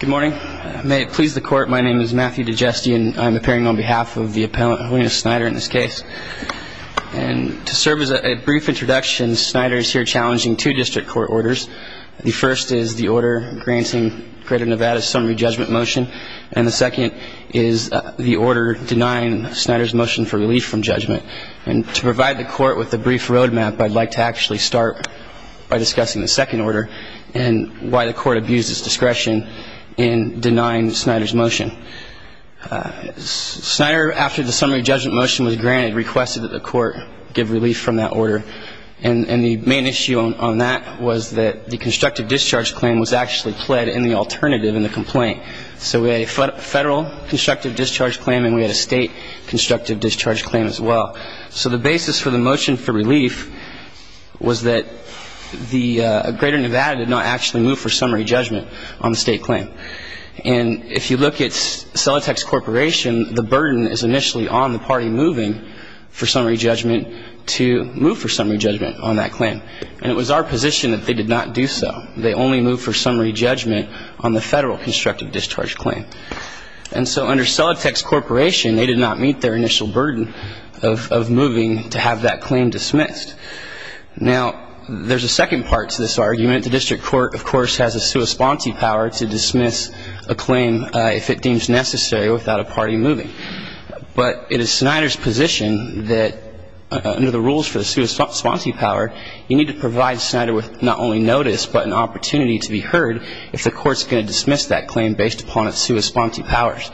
Good morning. May it please the court, my name is Matthew Digesti and I'm appearing on behalf of the appellant Helina Snider in this case. And to serve as a brief introduction, Snider is here challenging two district court orders. The first is the order granting Greater Nevada's summary judgment motion. And the second is the order denying Snider's motion for relief from judgment. And to provide the court with a brief road map, I'd like to actually start by discussing the second order and why the court abused its discretion in denying Snider's motion. Snider, after the summary judgment motion was granted, requested that the court give relief from that order. And the main issue on that was that the constructive discharge claim was actually pled in the alternative in the complaint. So we had a federal constructive discharge claim and we had a state constructive discharge claim as well. So the basis for the motion for relief was that the Greater Nevada did not actually move for summary judgment on the state claim. And if you look at Celotex Corporation, the burden is initially on the party moving for summary judgment to move for summary judgment on that claim. And it was our position that they did not do so. They only moved for summary judgment on the federal constructive discharge claim. And so under Celotex Corporation, they did not meet their initial burden of moving to have that claim dismissed. Now, there's a second part to this argument. The district court, of course, has a sua sponsi power to dismiss a claim if it deems necessary without a party moving. But it is Snider's position that under the rules for the sua sponsi power, you need to provide Snider with not only notice but an opportunity to be heard if the court's going to dismiss that claim based upon its sua sponsi powers.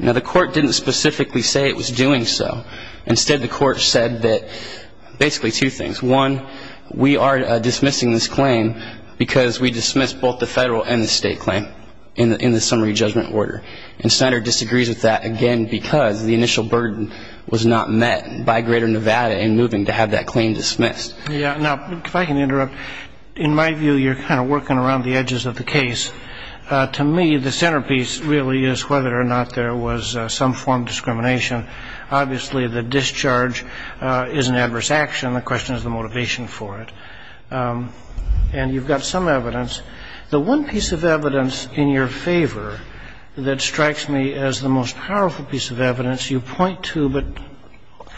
Now, the court didn't specifically say it was doing so. Instead, the court said that basically two things. One, we are dismissing this claim because we dismissed both the federal and the state claim in the summary judgment order. And Snider disagrees with that, again, because the initial burden was not met by Greater Nevada in moving to have that claim dismissed. Yeah. Now, if I can interrupt. In my view, you're kind of working around the edges of the case. To me, the centerpiece really is whether or not there was some form of discrimination. Obviously, the discharge is an adverse action. The question is the motivation for it. And you've got some evidence. The one piece of evidence in your favor that strikes me as the most powerful piece of evidence you point to but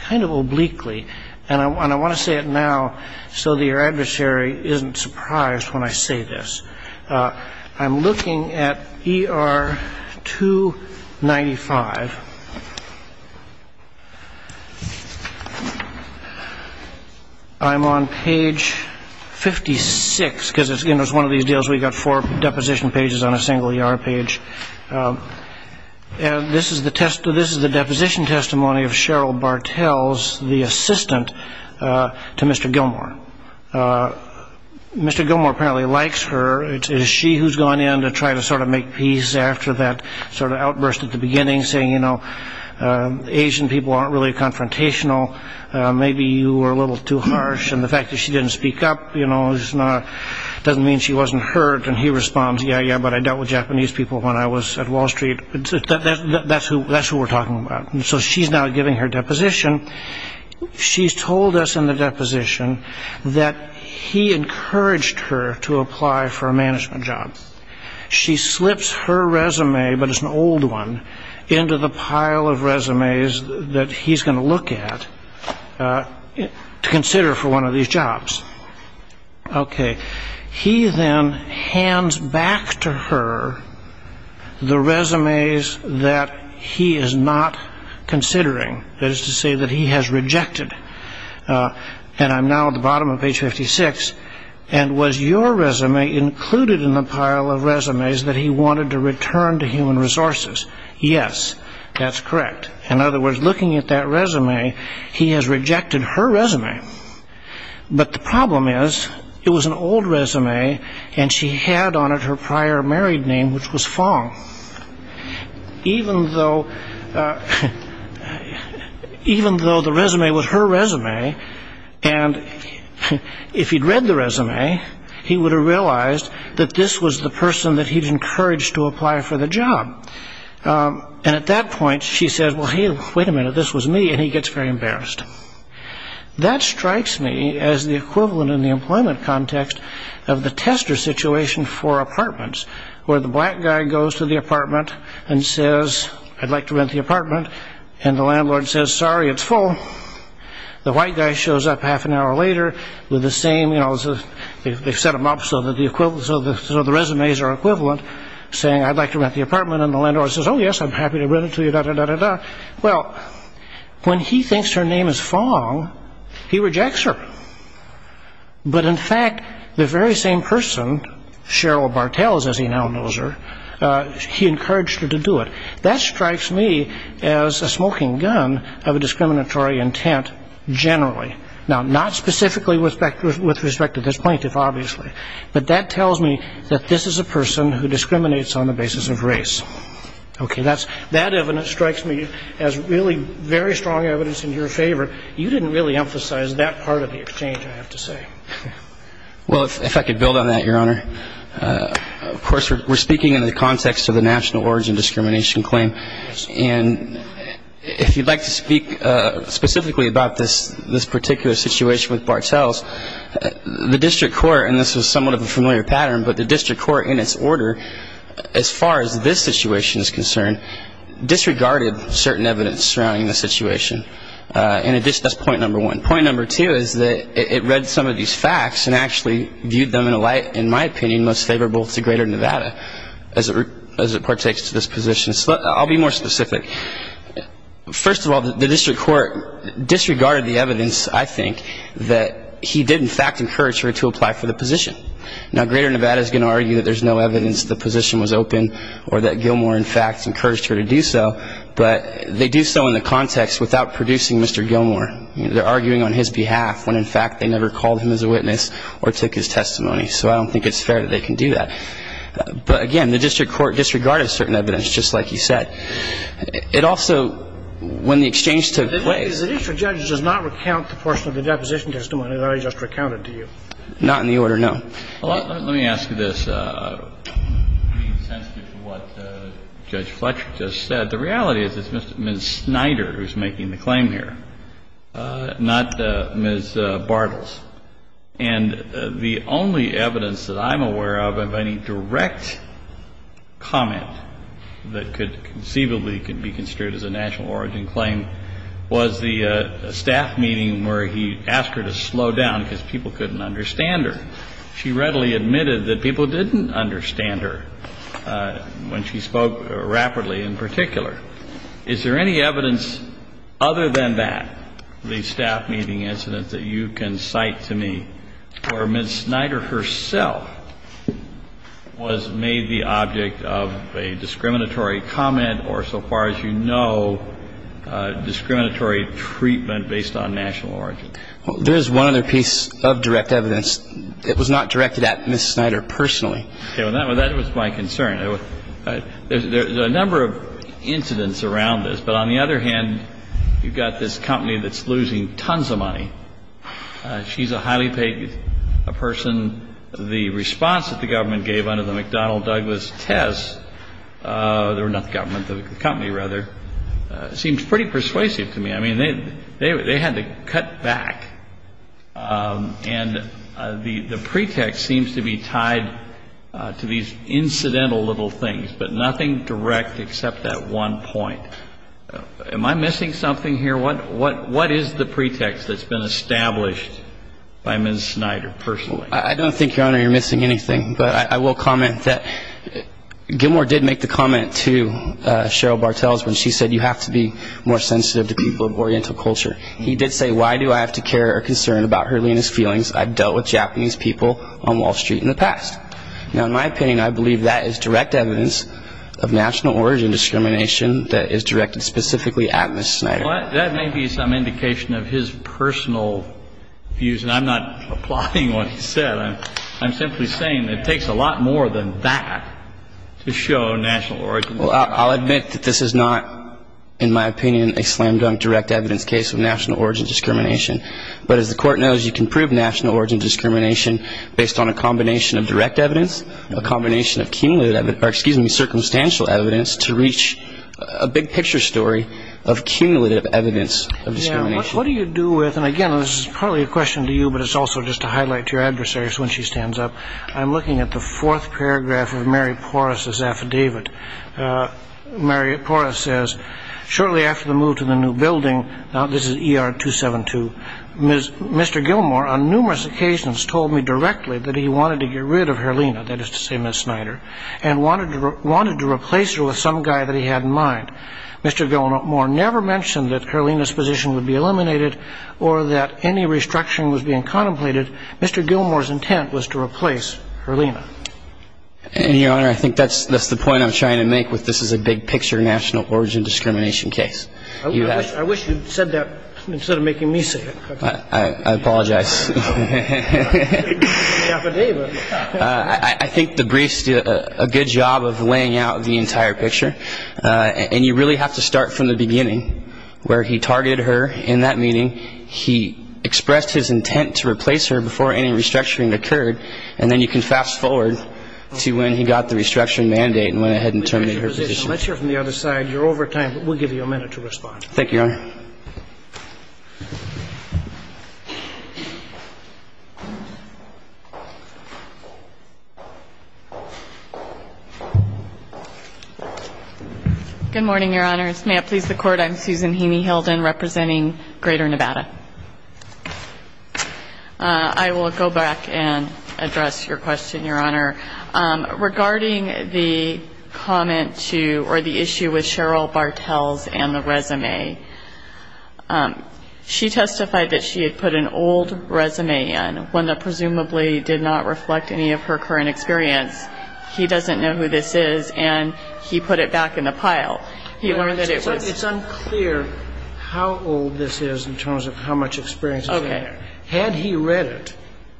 kind of obliquely, and I want to say it now so that your adversary isn't surprised when I say this. I'm looking at ER 295. I'm on page 56 because it's one of these deals where you've got four deposition pages on a single ER page. This is the deposition testimony of Cheryl Bartels, the assistant to Mr. Gilmore. Mr. Gilmore apparently likes her. It is she who's gone in to try to sort of make peace after that sort of outburst at the beginning, saying, you know, Asian people aren't really confrontational. Maybe you were a little too harsh. And the fact that she didn't speak up, you know, doesn't mean she wasn't hurt. And he responds, yeah, yeah, but I dealt with Japanese people when I was at Wall Street. That's who we're talking about. So she's now giving her deposition. She's told us in the deposition that he encouraged her to apply for a management job. She slips her resume, but it's an old one, into the pile of resumes that he's going to look at to consider for one of these jobs. Okay. He then hands back to her the resumes that he is not considering. That is to say that he has rejected. And I'm now at the bottom of page 56. And was your resume included in the pile of resumes that he wanted to return to Human Resources? Yes, that's correct. In other words, looking at that resume, he has rejected her resume. But the problem is it was an old resume, and she had on it her prior married name, which was Fong. Even though the resume was her resume, and if he'd read the resume, he would have realized that this was the person that he'd encouraged to apply for the job. And at that point, she says, well, hey, wait a minute, this was me, and he gets very embarrassed. That strikes me as the equivalent in the employment context of the tester situation for apartments, where the black guy goes to the apartment and says, I'd like to rent the apartment, and the landlord says, sorry, it's full. The white guy shows up half an hour later with the same, you know, they set them up so that the resumes are equivalent, saying, I'd like to rent the apartment, and the landlord says, oh, yes, I'm happy to rent it to you, da-da-da-da-da. Well, when he thinks her name is Fong, he rejects her. But in fact, the very same person, Cheryl Bartels, as he now knows her, he encouraged her to do it. That strikes me as a smoking gun of a discriminatory intent generally. Now, not specifically with respect to this plaintiff, obviously, but that tells me that this is a person who discriminates on the basis of race. Okay. That evidence strikes me as really very strong evidence in your favor. You didn't really emphasize that part of the exchange, I have to say. Well, if I could build on that, Your Honor. Of course, we're speaking in the context of the national origin discrimination claim. And if you'd like to speak specifically about this particular situation with Bartels, the district court, and this is somewhat of a familiar pattern, but the district court in its order, as far as this situation is concerned, disregarded certain evidence surrounding the situation. And that's point number one. Point number two is that it read some of these facts and actually viewed them in a light, in my opinion, most favorable to Greater Nevada as it partakes to this position. So I'll be more specific. First of all, the district court disregarded the evidence, I think, that he did in fact encourage her to apply for the position. Now, Greater Nevada is going to argue that there's no evidence the position was open or that Gilmore, in fact, encouraged her to do so, but they do so in the context without producing Mr. Gilmore. They're arguing on his behalf when, in fact, they never called him as a witness or took his testimony. So I don't think it's fair that they can do that. But, again, the district court disregarded certain evidence, just like you said. It also, when the exchange took place. The district judge does not recount the portion of the deposition testimony that I just recounted to you. Not in the order, no. Well, let me ask you this, being sensitive to what Judge Fletcher just said. The reality is it's Ms. Snyder who's making the claim here, not Ms. Bartels. And the only evidence that I'm aware of of any direct comment that could conceivably be construed as a national origin claim was the staff meeting where he asked her to slow down because people couldn't understand her. She readily admitted that people didn't understand her when she spoke rapidly in particular. Is there any evidence other than that, the staff meeting incident, that you can cite to me where Ms. Snyder herself was made the object of a discriminatory comment or, so far as you know, discriminatory treatment based on national origin? There is one other piece of direct evidence. It was not directed at Ms. Snyder personally. Okay. Well, that was my concern. There's a number of incidents around this. But on the other hand, you've got this company that's losing tons of money. She's a highly paid person. The response that the government gave under the McDonnell Douglas test, or not the government, the company rather, seemed pretty persuasive to me. I mean, they had to cut back. And the pretext seems to be tied to these incidental little things, but nothing direct except that one point. Am I missing something here? What is the pretext that's been established by Ms. Snyder personally? I don't think, Your Honor, you're missing anything. But I will comment that Gilmore did make the comment to Cheryl Bartels when she said you have to be more sensitive to people of oriental culture. He did say, Why do I have to care or concern about Herlina's feelings? I've dealt with Japanese people on Wall Street in the past. Now, in my opinion, I believe that is direct evidence of national origin discrimination that is directed specifically at Ms. Snyder. That may be some indication of his personal views, and I'm not applauding what he said. I'm simply saying it takes a lot more than that to show national origin. Well, I'll admit that this is not, in my opinion, a slam-dunk direct evidence case of national origin discrimination. But as the Court knows, you can prove national origin discrimination based on a combination of direct evidence, a combination of circumstantial evidence to reach a big-picture story of cumulative evidence of discrimination. What do you do with, and again, this is probably a question to you, but it's also just to highlight to your adversaries when she stands up. I'm looking at the fourth paragraph of Mary Porras's affidavit. Mary Porras says, Shortly after the move to the new building, now this is ER 272, Mr. Gilmore on numerous occasions told me directly that he wanted to get rid of Herlina, that is to say, Ms. Snyder, and wanted to replace her with some guy that he had in mind. Mr. Gilmore never mentioned that Herlina's position would be eliminated or that any restructuring was being contemplated. Mr. Gilmore's intent was to replace Herlina. And, Your Honor, I think that's the point I'm trying to make with this is a big-picture national origin discrimination case. I wish you'd said that instead of making me say it. I apologize. Affidavit. I think the briefs do a good job of laying out the entire picture. And you really have to start from the beginning where he targeted her in that meeting. He expressed his intent to replace her before any restructuring occurred. And then you can fast forward to when he got the restructuring mandate and went ahead and terminated her position. Let's hear from the other side. You're over time. We'll give you a minute to respond. Thank you, Your Honor. Good morning, Your Honors. May it please the Court. I'm Susan Heaney Hilden representing Greater Nevada. I will go back and address your question, Your Honor. Regarding the comment to or the issue with Cheryl Bartels and the resume, she testified that she had put an old resume in, one that presumably did not reflect any of her current experience. He doesn't know who this is, and he put it back in the pile. He learned that it was It's unclear how old this is in terms of how much experience he had. Okay. Had he read it,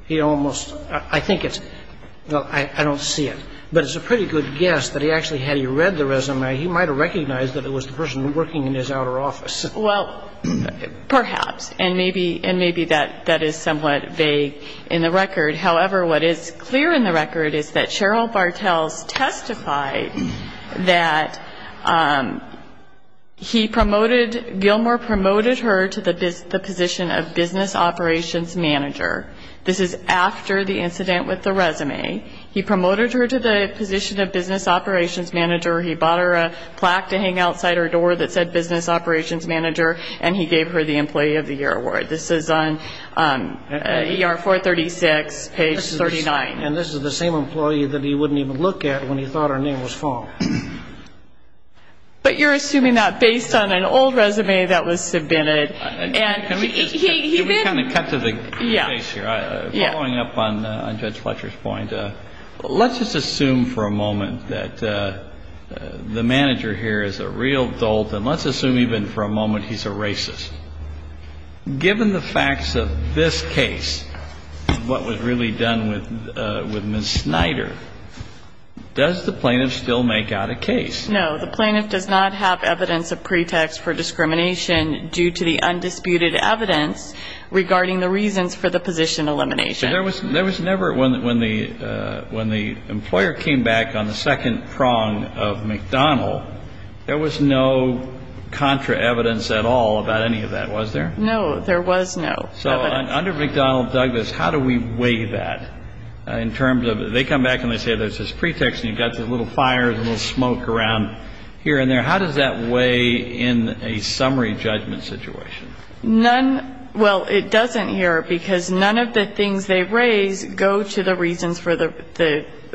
he almost, I think it's, well, I don't see it. But it's a pretty good guess that he actually, had he read the resume, he might have recognized that it was the person working in his outer office. And maybe that is somewhat vague in the record. However, what is clear in the record is that Cheryl Bartels testified that he promoted, Gilmore promoted her to the position of business operations manager. This is after the incident with the resume. He promoted her to the position of business operations manager. He bought her a plaque to hang outside her door that said business operations manager, and he gave her the employee of the year award. This is on ER 436, page 39. And this is the same employee that he wouldn't even look at when he thought her name was false. But you're assuming that based on an old resume that was submitted. Can we kind of cut to the chase here? Following up on Judge Fletcher's point, let's just assume for a moment that the manager here is a real dolt, and let's assume even for a moment he's a racist. Given the facts of this case, what was really done with Ms. Snyder, does the plaintiff still make out a case? No. The plaintiff does not have evidence of pretext for discrimination due to the undisputed evidence regarding the reasons for the position elimination. When the employer came back on the second prong of McDonald, there was no contra evidence at all about any of that, was there? No, there was no evidence. So under McDonald-Douglas, how do we weigh that in terms of they come back and they say there's this pretext, and you've got this little fire, a little smoke around here and there. How does that weigh in a summary judgment situation? Well, it doesn't here because none of the things they raise go to the reasons for the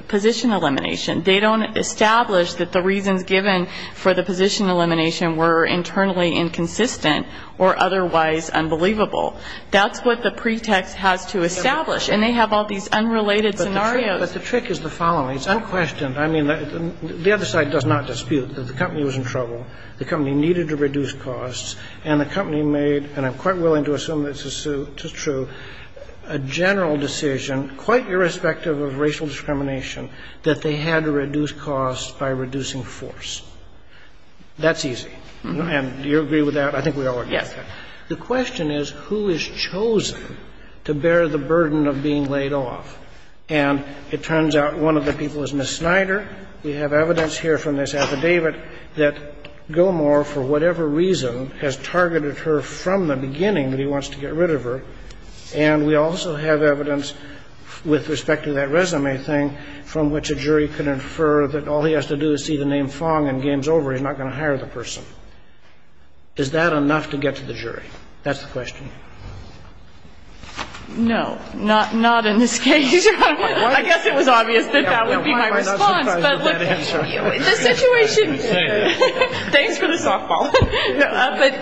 position elimination. They don't establish that the reasons given for the position elimination were internally inconsistent or otherwise unbelievable. That's what the pretext has to establish, and they have all these unrelated scenarios. But the trick is the following. It's unquestioned. I mean, the other side does not dispute that the company was in trouble, the company needed to reduce costs, and the company made, and I'm quite willing to assume this is true, a general decision, quite irrespective of racial discrimination, that they had to reduce costs by reducing force. That's easy. And do you agree with that? I think we all agree with that. Yes. The question is, who is chosen to bear the burden of being laid off? And it turns out one of the people is Ms. Snyder. We have evidence here from this affidavit that Gilmore, for whatever reason, has targeted her from the beginning that he wants to get rid of her. And we also have evidence with respect to that resume thing from which a jury could infer that all he has to do is see the name Fong and game's over, he's not going to hire the person. Is that enough to get to the jury? That's the question. No. Not in this case. I guess it was obvious that that would be my response. But look, the situation, thanks for the softball. But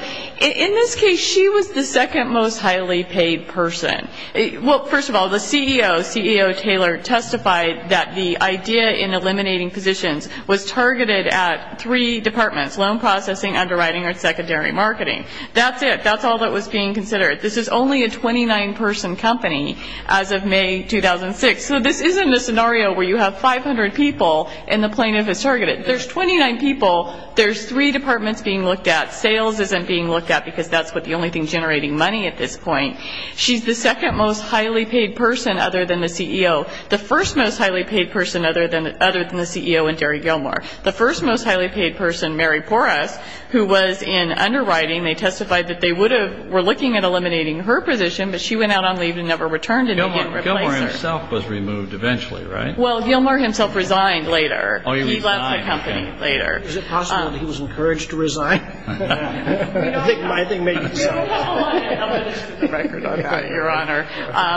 in this case, she was the second most highly paid person. Well, first of all, the CEO, CEO Taylor, testified that the idea in eliminating positions was targeted at three departments, loan processing, underwriting, and secondary marketing. That's it. That's all that was being considered. This is only a 29-person company as of May 2006. So this isn't a scenario where you have 500 people and the plaintiff is targeted. There's 29 people. There's three departments being looked at. Sales isn't being looked at because that's the only thing generating money at this point. She's the second most highly paid person other than the CEO. The first most highly paid person other than the CEO and Gary Gilmore. The first most highly paid person, Mary Porras, who was in underwriting, they testified that they were looking at eliminating her position, but she went out on leave and never returned. And they didn't replace her. Gilmore himself was removed eventually, right? Well, Gilmore himself resigned later. He left the company later. Is it possible that he was encouraged to resign? I think maybe so.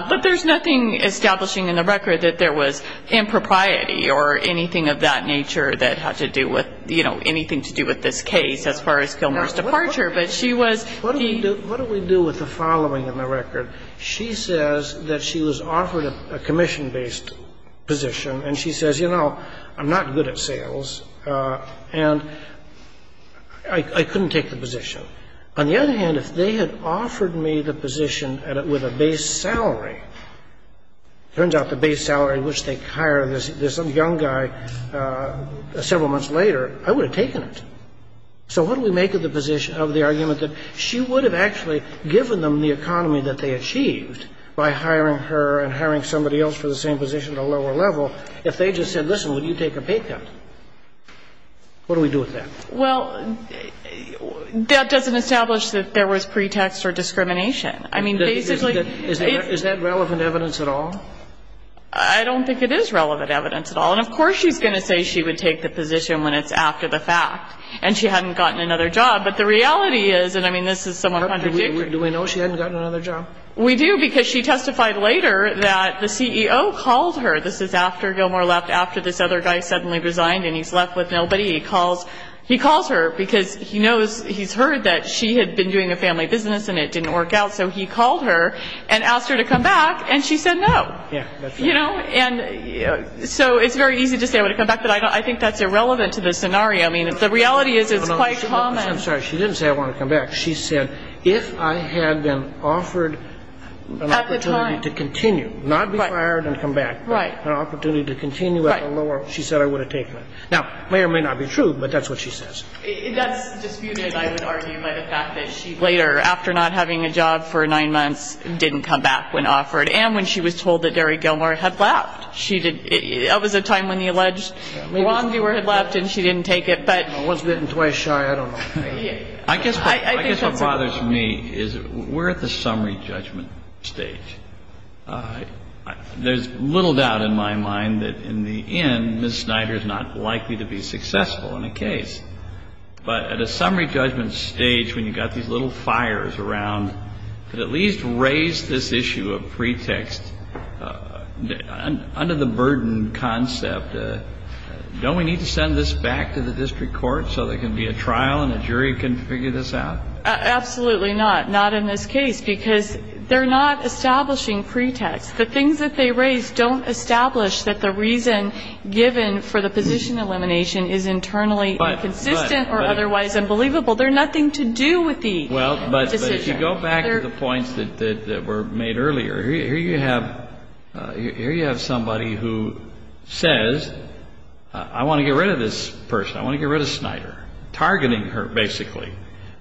But there's nothing establishing in the record that there was impropriety or anything of that nature that had to do with anything to do with this case as far as Gilmore's departure. But she was the ---- What do we do with the following in the record? She says that she was offered a commission-based position, and she says, you know, I'm not good at sales, and I couldn't take the position. On the other hand, if they had offered me the position with a base salary, it turns out the base salary at which they hire this young guy several months later, I would have taken it. So what do we make of the position of the argument that she would have actually given them the economy that they achieved by hiring her and hiring somebody else for the same position at a lower level if they just said, listen, will you take a pay cut? What do we do with that? Well, that doesn't establish that there was pretext or discrimination. I mean, basically ---- Is that relevant evidence at all? I don't think it is relevant evidence at all. And of course she's going to say she would take the position when it's after the fact and she hadn't gotten another job. But the reality is, and I mean, this is somewhat contradictory. Do we know she hadn't gotten another job? We do because she testified later that the CEO called her. This is after Gilmore left, after this other guy suddenly resigned and he's left with nobody. He calls her because he knows, he's heard that she had been doing a family business and it didn't work out. So he called her and asked her to come back, and she said no. Yeah, that's right. So it's very easy to say I would have come back, but I think that's irrelevant to the scenario. I mean, the reality is it's quite common. I'm sorry. She didn't say I want to come back. She said if I had been offered an opportunity to continue, not be fired and come back, but an opportunity to continue at the lower, she said I would have taken it. Now, may or may not be true, but that's what she says. That's disputed, I would argue, by the fact that she later, after not having a job for nine months, didn't come back when offered. And when she was told that Derry Gilmore had left. That was a time when the alleged wrongdoer had left and she didn't take it. I wasn't twice shy. I don't know. I guess what bothers me is we're at the summary judgment stage. There's little doubt in my mind that in the end, Ms. Snyder is not likely to be successful in a case. But at a summary judgment stage, when you've got these little fires around, can you at least raise this issue of pretext under the burden concept? Don't we need to send this back to the district court so there can be a trial and a jury can figure this out? Absolutely not. Not in this case. Because they're not establishing pretext. The things that they raise don't establish that the reason given for the position elimination is internally inconsistent or otherwise unbelievable. They're nothing to do with the decision. Well, but if you go back to the points that were made earlier, here you have somebody who says, I want to get rid of this person. I want to get rid of Snyder. Targeting her, basically.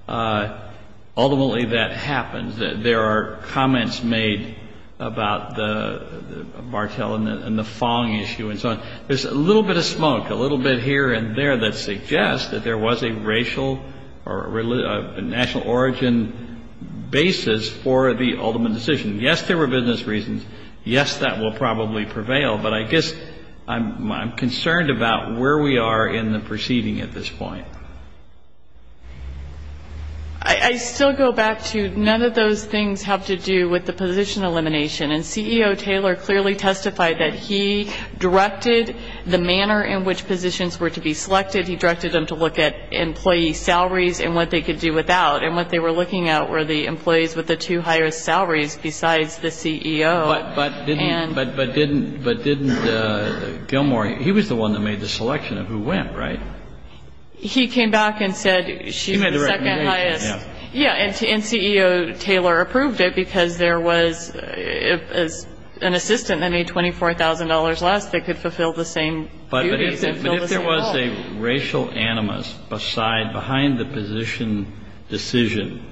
Ultimately, that happens. There are comments made about the Bartel and the Fong issue and so on. There's a little bit of smoke, a little bit here and there that suggests that there was a racial or national origin basis for the ultimate decision. Yes, there were business reasons. Yes, that will probably prevail. But I guess I'm concerned about where we are in the proceeding at this point. I still go back to none of those things have to do with the position elimination. And CEO Taylor clearly testified that he directed the manner in which positions were to be selected. He directed them to look at employee salaries and what they could do without. And what they were looking at were the employees with the two highest salaries besides the CEO. But didn't Gilmour, he was the one that made the selection of who went, right? He came back and said she's the second highest. Yeah, and CEO Taylor approved it because there was an assistant that made $24,000 less that could fulfill the same duties. But if there was a racial animus behind the position decision,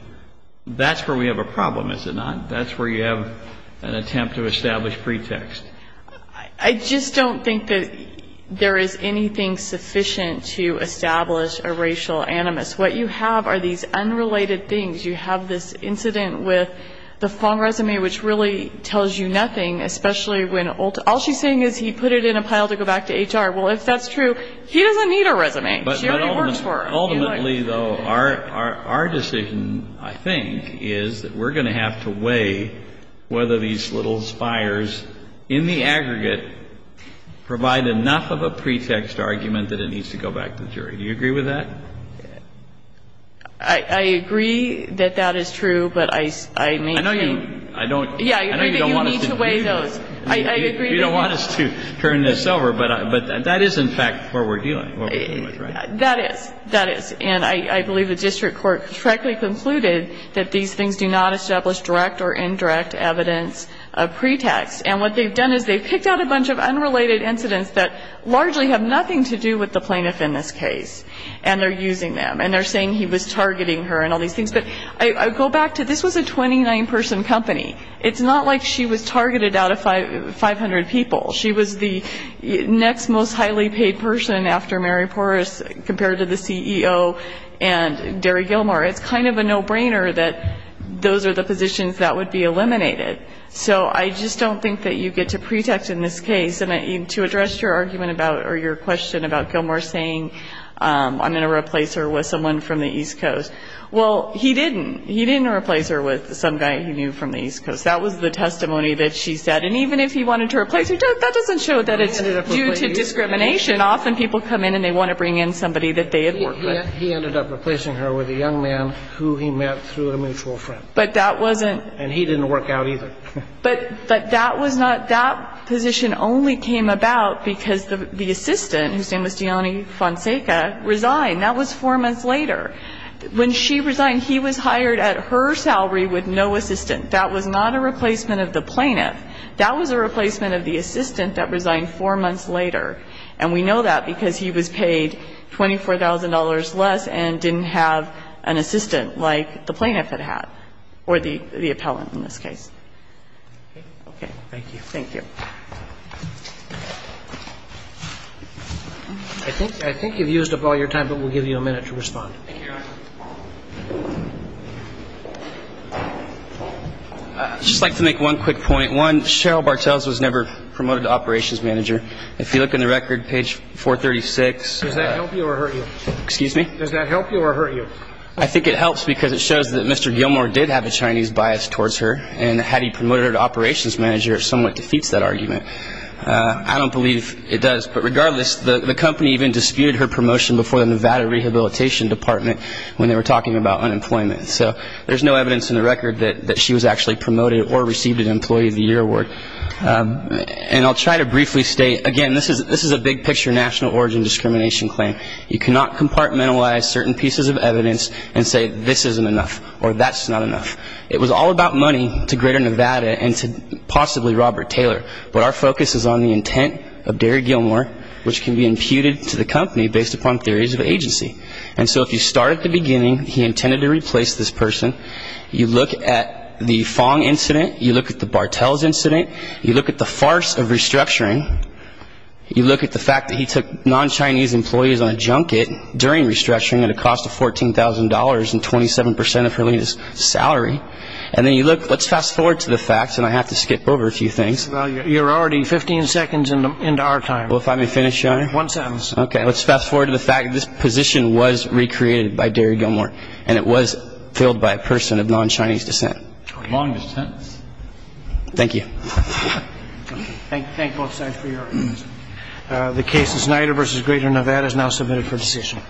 that's where we have a problem, is it not? That's where you have an attempt to establish pretext. I just don't think that there is anything sufficient to establish a racial animus. What you have are these unrelated things. You have this incident with the phone resume which really tells you nothing, especially when all she's saying is he put it in a pile to go back to HR. Well, if that's true, he doesn't need a resume. She already works for him. Ultimately, though, our decision, I think, is that we're going to have to weigh whether these little spires in the aggregate provide enough of a pretext argument that it needs to go back to the jury. Do you agree with that? I agree that that is true, but I may change. I know you don't want us to do this. Yeah, I agree that you need to weigh those. You don't want us to turn this over, but that is, in fact, what we're dealing with, right? That is. That is. And I believe the district court correctly concluded that these things do not establish direct or indirect evidence of pretext. And what they've done is they've picked out a bunch of unrelated incidents that largely have nothing to do with the plaintiff in this case. And they're using them. And they're saying he was targeting her and all these things. But I go back to this was a 29-person company. It's not like she was targeted out of 500 people. She was the next most highly paid person after Mary Porras compared to the CEO and Gary Gilmore. It's kind of a no-brainer that those are the positions that would be eliminated. So I just don't think that you get to pretext in this case. And to address your argument about or your question about Gilmore saying, I'm going to replace her with someone from the East Coast. Well, he didn't. He didn't replace her with some guy he knew from the East Coast. That was the testimony that she said. And even if he wanted to replace her, that doesn't show that it's due to discrimination. Often people come in and they want to bring in somebody that they had worked with. He ended up replacing her with a young man who he met through a mutual friend. But that wasn't. And he didn't work out either. But that was not. That position only came about because the assistant, whose name was Gianni Fonseca, resigned. That was four months later. When she resigned, he was hired at her salary with no assistant. That was not a replacement of the plaintiff. That was a replacement of the assistant that resigned four months later. And we know that because he was paid $24,000 less and didn't have an assistant like the plaintiff had had or the appellant in this case. Okay. Thank you. Thank you. I think you've used up all your time, but we'll give you a minute to respond. Thank you. I'd just like to make one quick point. One, Cheryl Bartels was never promoted to operations manager. If you look in the record, page 436. Does that help you or hurt you? Excuse me? Does that help you or hurt you? I think it helps because it shows that Mr. Gilmour did have a Chinese bias towards her. And had he promoted her to operations manager, it somewhat defeats that argument. I don't believe it does. But regardless, the company even disputed her promotion before the Nevada Rehabilitation Department when they were talking about unemployment. So there's no evidence in the record that she was actually promoted or received an Employee of the Year Award. And I'll try to briefly state, again, this is a big-picture national origin discrimination claim. You cannot compartmentalize certain pieces of evidence and say this isn't enough or that's not enough. It was all about money to Greater Nevada and to possibly Robert Taylor. But our focus is on the intent of Derry Gilmour, which can be imputed to the company based upon theories of agency. And so if you start at the beginning, he intended to replace this person. You look at the Fong incident. You look at the Bartels incident. You look at the farce of restructuring. You look at the fact that he took non-Chinese employees on a junket during restructuring at a cost of $14,000 and 27 percent of her latest salary. And then you look at the facts, and I have to skip over a few things. Well, you're already 15 seconds into our time. Well, if I may finish, Your Honor. One sentence. Okay. Let's fast-forward to the fact that this position was recreated by Derry Gilmour, and it was filled by a person of non-Chinese descent. Longer sentence. Thank you. Thank both sides for your arguments. The case of Snyder v. Greater Nevada is now submitted for decision.